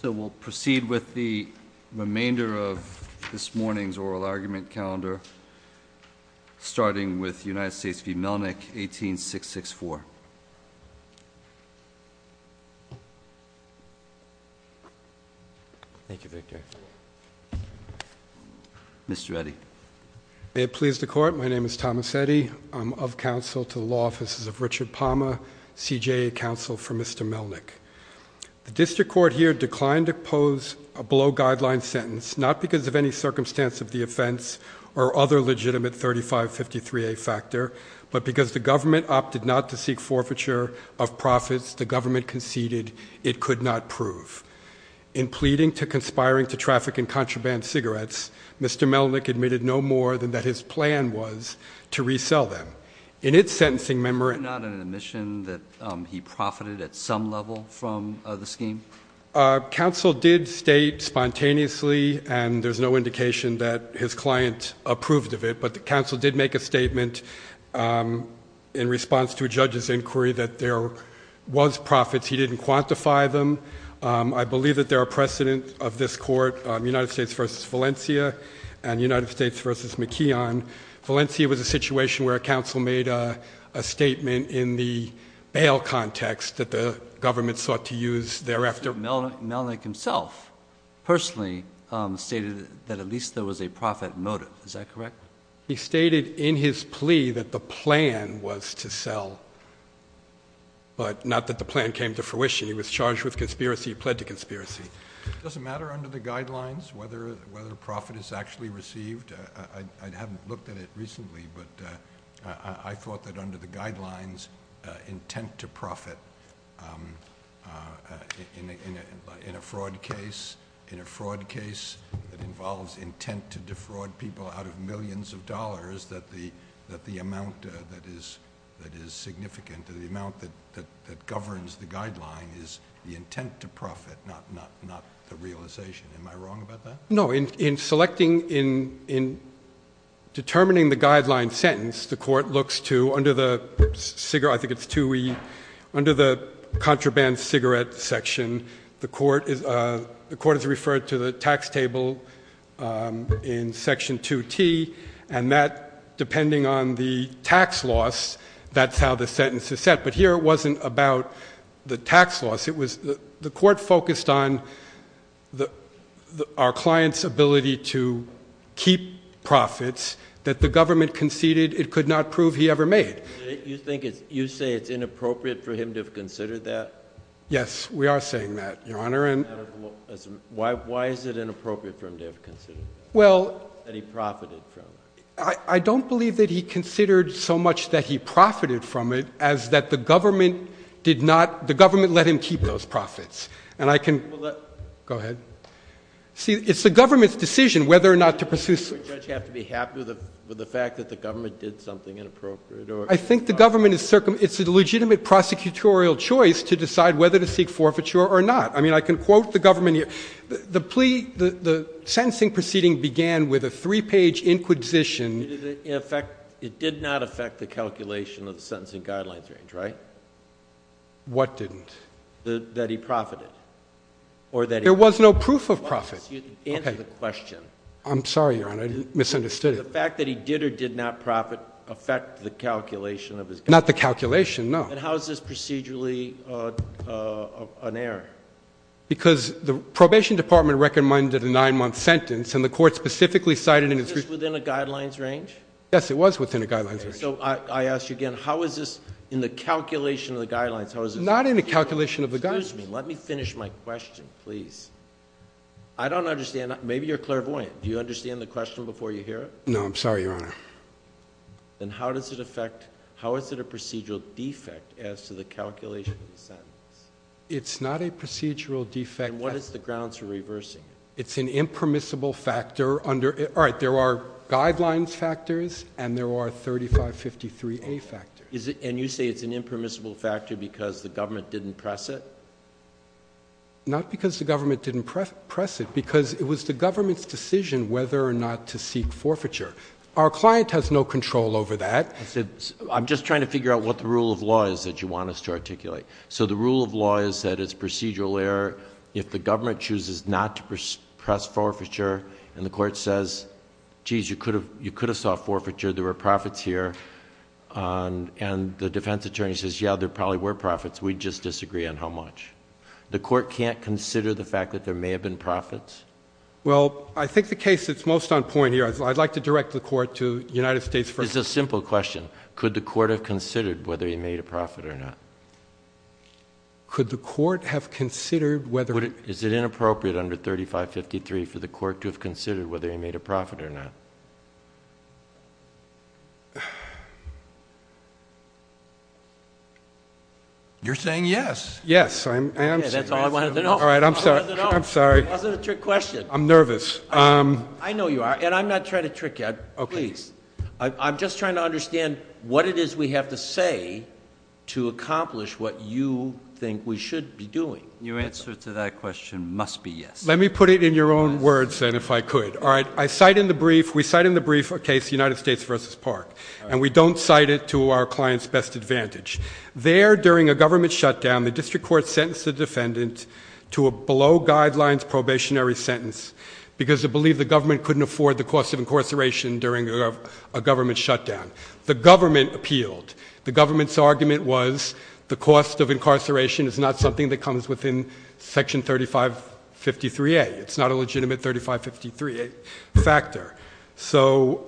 So we'll proceed with the remainder of this morning's oral argument calendar starting with United States v. Melnick, 18664. Thank you, Victor. Mr. Eddy. May it please the Court, my name is Thomas Eddy. I'm of counsel to the Law Offices of Richard Palmer, CJA counsel for Mr. Melnick. The defendant declined to pose a below-guideline sentence, not because of any circumstance of the offense or other legitimate 3553A factor, but because the government opted not to seek forfeiture of profits the government conceded it could not prove. In pleading to conspiring to traffic and contraband cigarettes, Mr. Melnick admitted no more than that his plan was to resell them. In counsel did state spontaneously, and there's no indication that his client approved of it, but the counsel did make a statement in response to a judge's inquiry that there was profits. He didn't quantify them. I believe that there are precedent of this court, United States v. Valencia and United States v. McKeon. Valencia was a situation where a counsel made a statement in the bail context that the government sought to use thereafter. Mr. Melnick himself personally stated that at least there was a profit motive, is that correct? He stated in his plea that the plan was to sell, but not that the plan came to fruition. He was charged with conspiracy. He pled to conspiracy. Does it matter under the guidelines whether a profit is actually received? I haven't under the guidelines intent to profit in a fraud case, in a fraud case that involves intent to defraud people out of millions of dollars, that the amount that is significant, the amount that governs the guideline is the intent to profit, not the realization. Am I wrong about that? No. In selecting, in determining the guideline sentence, the court looks to, under the cigarette, I think it's 2E, under the contraband cigarette section, the court is referred to the tax table in section 2T, and that depending on the tax loss, that's how the sentence is set. But here it wasn't about the tax loss. The court focused on our client's ability to keep profits that the government conceded it could not prove he ever made. You think it's, you say it's inappropriate for him to have considered that? Yes, we are saying that, Your Honor. Why is it inappropriate for him to have considered that he profited from it? I don't believe that he considered so much that he profited from it as that the government did not, the government let him keep those profits. And I can, go back to the government's decision whether or not to pursue such. Don't you have to be happy with the fact that the government did something inappropriate? I think the government is, it's a legitimate prosecutorial choice to decide whether to seek forfeiture or not. I mean, I can quote the government here. The plea, the sentencing proceeding began with a three-page inquisition. Did it, in effect, it did not affect the calculation of the sentencing guidelines range, right? What didn't? That he profited. Or that he. Proof of profit. Answer the question. I'm sorry, Your Honor, I misunderstood it. The fact that he did or did not profit affect the calculation of his. Not the calculation, no. And how is this procedurally an error? Because the probation department recommended a nine-month sentence and the court specifically cited. Was this within a guidelines range? Yes, it was within a guidelines range. So, I ask you again, how is this in the calculation of the guidelines? Not in the calculation of the guidelines. Excuse me, let me finish my question, please. I don't understand, maybe you're clairvoyant. Do you understand the question before you hear it? No, I'm sorry, Your Honor. Then how does it affect, how is it a procedural defect as to the calculation of the sentence? It's not a procedural defect. And what is the grounds for reversing it? It's an impermissible factor under, all right, there are guidelines factors and there are 3553A factors. And you say it's an impermissible factor because the government didn't press it? Not because the government didn't press it, because it was the government's decision whether or not to seek forfeiture. Our client has no control over that. I'm just trying to figure out what the rule of law is that you want us to articulate. So, the rule of law is that it's procedural error if the government chooses not to press forfeiture and the court says, geez, you could have sought forfeiture, there were profits here, and the defense attorney says, yeah, there probably were profits, we just disagree on how much. The court can't consider the fact that there may have been profits? Well, I think the case that's most on point here, I'd like to direct the court to United States first. It's a simple question. Could the court have considered whether he made a profit or not? Could the court have considered whether it... Is it inappropriate under 3553 for the court to have considered whether he made a profit or not? You're saying yes. Yes, I am saying yes. That's all I wanted to know. All right, I'm sorry. That wasn't a trick question. I'm nervous. I know you are, and I'm not trying to trick you. Please. I'm just trying to understand what it is we have to say to accomplish what you think we should be doing. Your answer to that question must be yes. Let me put it in your own words, then, if I could. All right, I cite in the brief... we cite in the brief a case, United States v. Park, and we don't cite it to our client's best advantage. There, during a government shutdown, the district court sentenced the defendant to a below-guidelines probationary sentence because it believed the government couldn't afford the cost of incarceration during a government shutdown. The government appealed. The government's argument was the cost of incarceration is not something that comes within Section 3553A. It's not a legitimate 3553A factor. So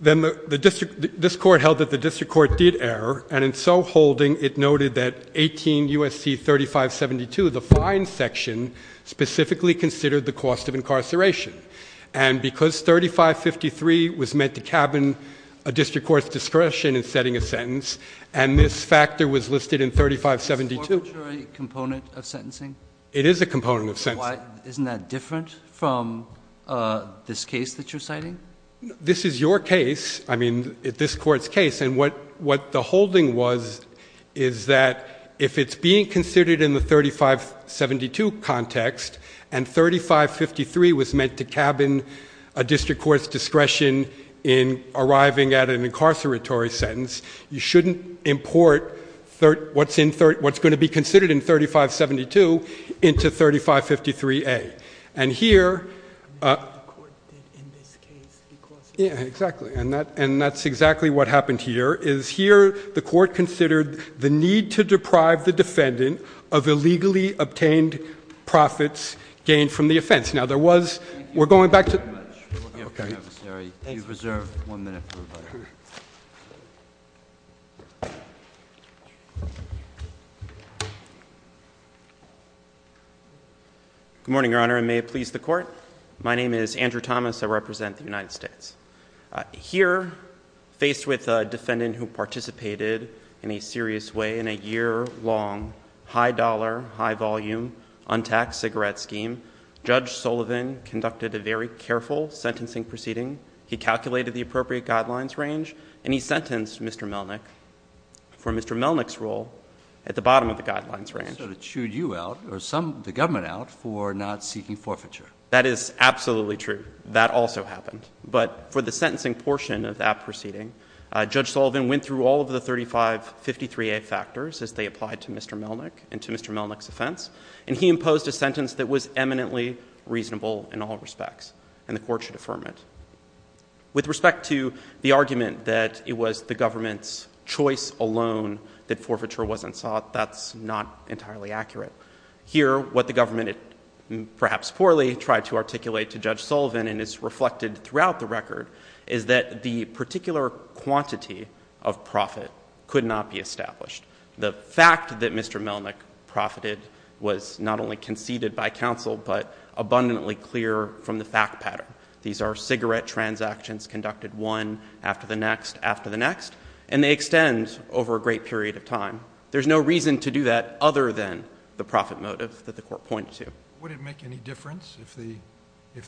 then this court held that the district court did err, and in so holding, it noted that 18 U.S.C. 3572, the fine section, specifically considered the cost of incarceration. And because 3553 was meant to cabin a district court's discretion in setting a sentence, and this factor was listed in 3572... Is this a corporate component of sentencing? It is a component of sentencing. Isn't that different from this case that you're citing? This is your case. I mean, this court's case. And what the holding was is that if it's being considered in the 3572 context, and 3553 was meant to cabin a district court's discretion in arriving at an incarceratory sentence, you shouldn't import what's going to be considered in 3572 into 3553A. And here... I mean, the court did, in this case, because... Yeah, exactly. And that's exactly what happened here, is here the court considered the need to deprive the defendant of illegally obtained profits gained from the offense. Now, there was... We're going back to... Thank you very much. Okay. Good morning, Your Honor, and may it please the Court. My name is Andrew Thomas. I represent the United States. Here, faced with a defendant who participated in a serious way in a year-long, high-dollar, high-volume, untaxed cigarette scheme, Judge Sullivan conducted a very careful sentencing proceeding. He calculated the appropriate guidelines range, and he sentenced Mr. Melnick for Mr. Melnick's role at the bottom of the guidelines range. So it chewed you out, or the government out, for not seeking forfeiture. That is absolutely true. That also happened. But for the sentencing portion of that proceeding, Judge Sullivan went through all of the 3553A factors as they applied to Mr. Melnick and to Mr. Melnick's offense, and he imposed a sentence that was eminently reasonable in all respects, and the Court should affirm it. With respect to the argument that it was the government's choice alone that forfeiture wasn't sought, that's not entirely accurate. Here, what the government, perhaps poorly, tried to articulate to Judge Sullivan, and it's reflected throughout the record, is that the particular quantity of profit could not be established. The fact that Mr. Melnick profited was not only conceded by counsel but abundantly clear from the fact pattern. These are cigarette transactions conducted one after the next after the next, and they extend over a great period of time. There's no reason to do that other than the profit motive that the Court pointed to. Would it make any difference if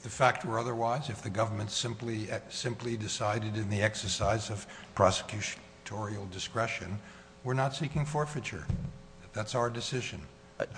the fact were otherwise, if the government simply decided in the exercise of prosecutorial discretion we're not seeking forfeiture? That's our decision.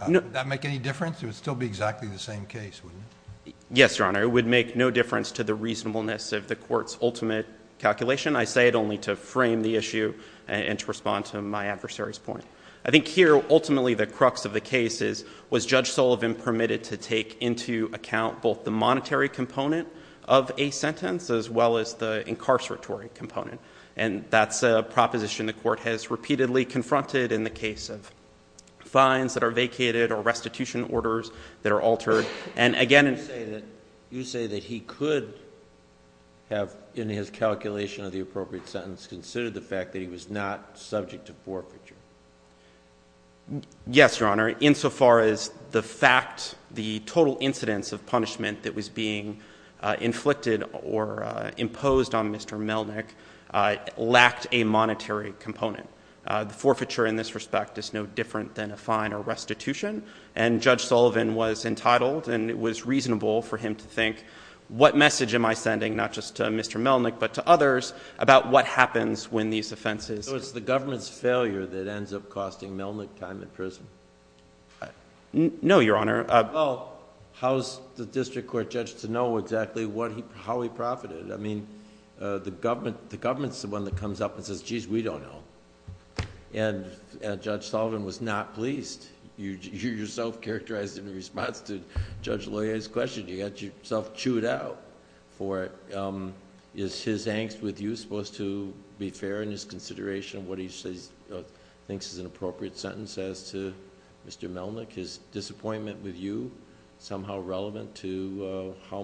Would that make any difference? It would still be exactly the same case, wouldn't it? Yes, Your Honor. It would make no difference to the reasonableness of the Court's ultimate calculation. I say it only to frame the issue and to respond to my adversary's point. I think here, ultimately, the crux of the case is, was Judge Sullivan permitted to take into account both the monetary component of a sentence as well as the incarceratory component? And that's a proposition the Court has repeatedly confronted in the case of fines that are vacated or restitution orders that are altered. You say that he could have, in his calculation of the appropriate sentence, considered the fact that he was not subject to forfeiture. Yes, Your Honor. Insofar as the fact, the total incidence of punishment that was being inflicted or imposed on Mr. Melnick lacked a monetary component. The forfeiture in this respect is no different than a fine or restitution, and Judge Sullivan was entitled and it was reasonable for him to think, what message am I sending, not just to Mr. Melnick but to others, about what happens when these offenses... So it's the government's failure that ends up costing Melnick time in prison? No, Your Honor. Well, how's the district court judge to know exactly how he profited? I mean, the government's the one that comes up and says, geez, we don't know. And Judge Sullivan was not pleased. You yourself characterized in response to Judge Loyer's question, you got yourself chewed out for it. Is his angst with you supposed to be fair in his consideration of what he thinks is an appropriate sentence as to Mr. Melnick? Is disappointment with you somehow relevant to how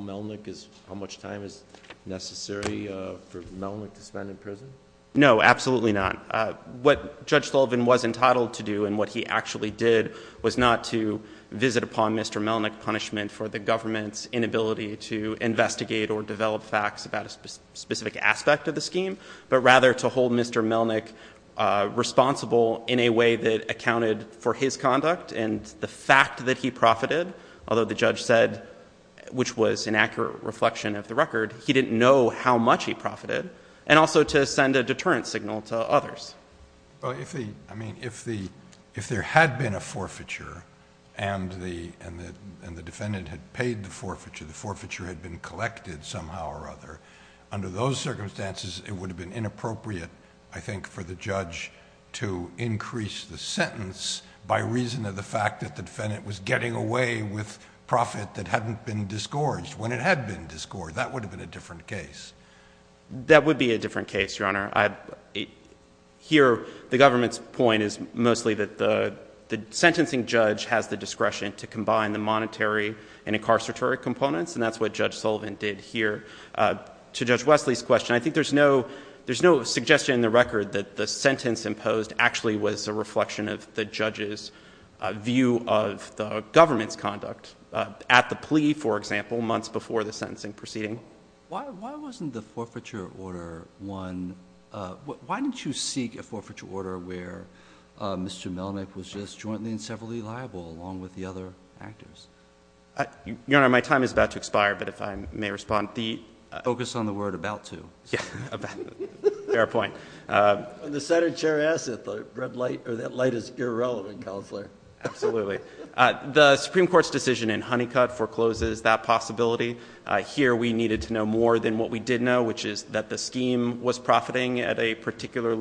much time is necessary for Melnick to spend in prison? No, absolutely not. What Judge Sullivan was entitled to do and what he actually did was not to visit upon Mr. Melnick's punishment for the government's inability to investigate or develop facts about a specific aspect of the scheme, but rather to hold Mr. Melnick responsible in a way that accounted for his conduct and the fact that he profited, although the judge said, which was an accurate reflection of the record, he didn't know how much he profited, and also to send a deterrent signal to others. Well, if there had been a forfeiture and the defendant had paid the forfeiture, the forfeiture had been collected somehow or other, under those circumstances it would have been inappropriate, I think, for the judge to increase the sentence by reason of the fact that the defendant was getting away with profit that hadn't been disgorged when it had been disgorged. So that would have been a different case. That would be a different case, Your Honor. Here, the government's point is mostly that the sentencing judge has the discretion to combine the monetary and incarcerated components, and that's what Judge Sullivan did here. To Judge Wesley's question, I think there's no suggestion in the record that the sentence imposed actually was a reflection of the judge's view of the government's conduct. At the plea, for example, months before the sentencing proceeding. Why wasn't the forfeiture order one? Why didn't you seek a forfeiture order where Mr. Melnyk was just jointly and severally liable, along with the other actors? Your Honor, my time is about to expire, but if I may respond. Focus on the word about to. Fair point. The Senate chair asked if the red light or that light is irrelevant, Counselor. Absolutely. The Supreme Court's decision in Honeycutt forecloses that possibility. Here, we needed to know more than what we did know, which is that the scheme was profiting at a particular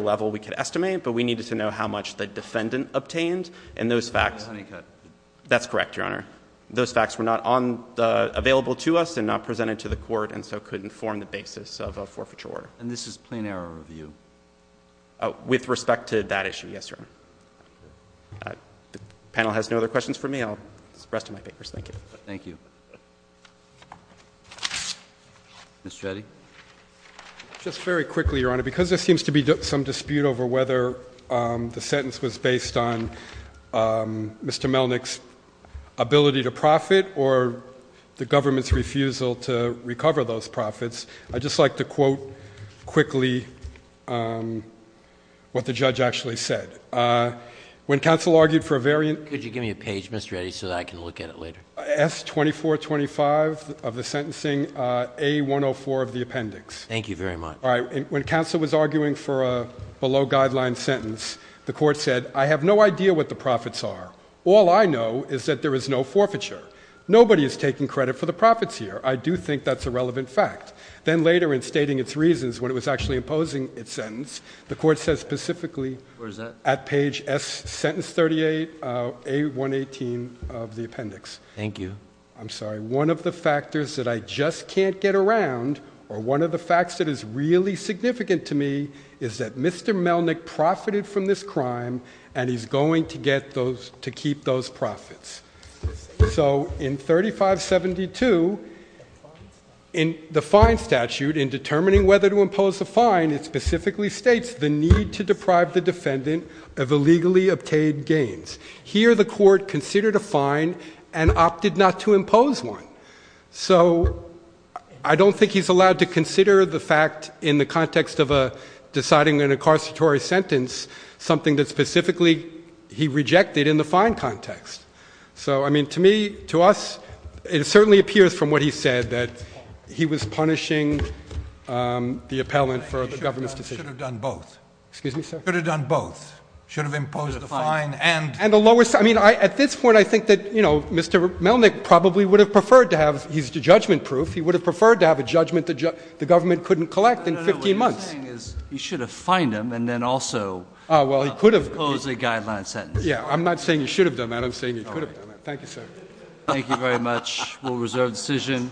level we could estimate, but we needed to know how much the defendant obtained, and those facts. Honeycutt. That's correct, Your Honor. Those facts were not available to us and not presented to the court, and so couldn't form the basis of a forfeiture order. And this is plain error review? With respect to that issue, yes, Your Honor. The panel has no other questions for me. The rest of my papers. Thank you. Mr. Eddie. Just very quickly, Your Honor. Because there seems to be some dispute over whether the sentence was based on Mr. Melnick's ability to profit or the government's refusal to recover those profits, I'd just like to quote quickly what the judge actually said. When counsel argued for a variant. Could you give me a page, Mr. Eddie, so that I can look at it later? S-2425 of the sentencing, A-104 of the appendix. Thank you very much. All right. When counsel was arguing for a below-guideline sentence, the court said, I have no idea what the profits are. All I know is that there is no forfeiture. Nobody is taking credit for the profits here. I do think that's a relevant fact. Then later in stating its reasons when it was actually imposing its sentence, the court says specifically. Where is that? At page S, sentence 38, A-118 of the appendix. Thank you. I'm sorry. One of the factors that I just can't get around, or one of the facts that is really significant to me, is that Mr. Melnick profited from this crime, and he's going to get those, to keep those profits. So in 3572, in the fine statute, in determining whether to impose a fine, it specifically states the need to deprive the defendant of illegally obtained gains. Here the court considered a fine and opted not to impose one. So I don't think he's allowed to consider the fact in the context of deciding an incarceratory sentence, something that specifically he rejected in the fine context. So, I mean, to me, to us, it certainly appears from what he said that he was punishing the appellant for the government's decision. He should have done both. Excuse me, sir? Should have done both. Should have imposed the fine. And the lowest, I mean, at this point, I think that, you know, Mr. Melnick probably would have preferred to have, he's judgment-proof, he would have preferred to have a judgment the government couldn't collect in 15 months. No, no, no, what he's saying is he should have fined him and then also imposed a guideline sentence. Yeah, I'm not saying he should have done that. I'm saying he could have done that. Thank you, sir. Thank you very much. We'll reserve the decision.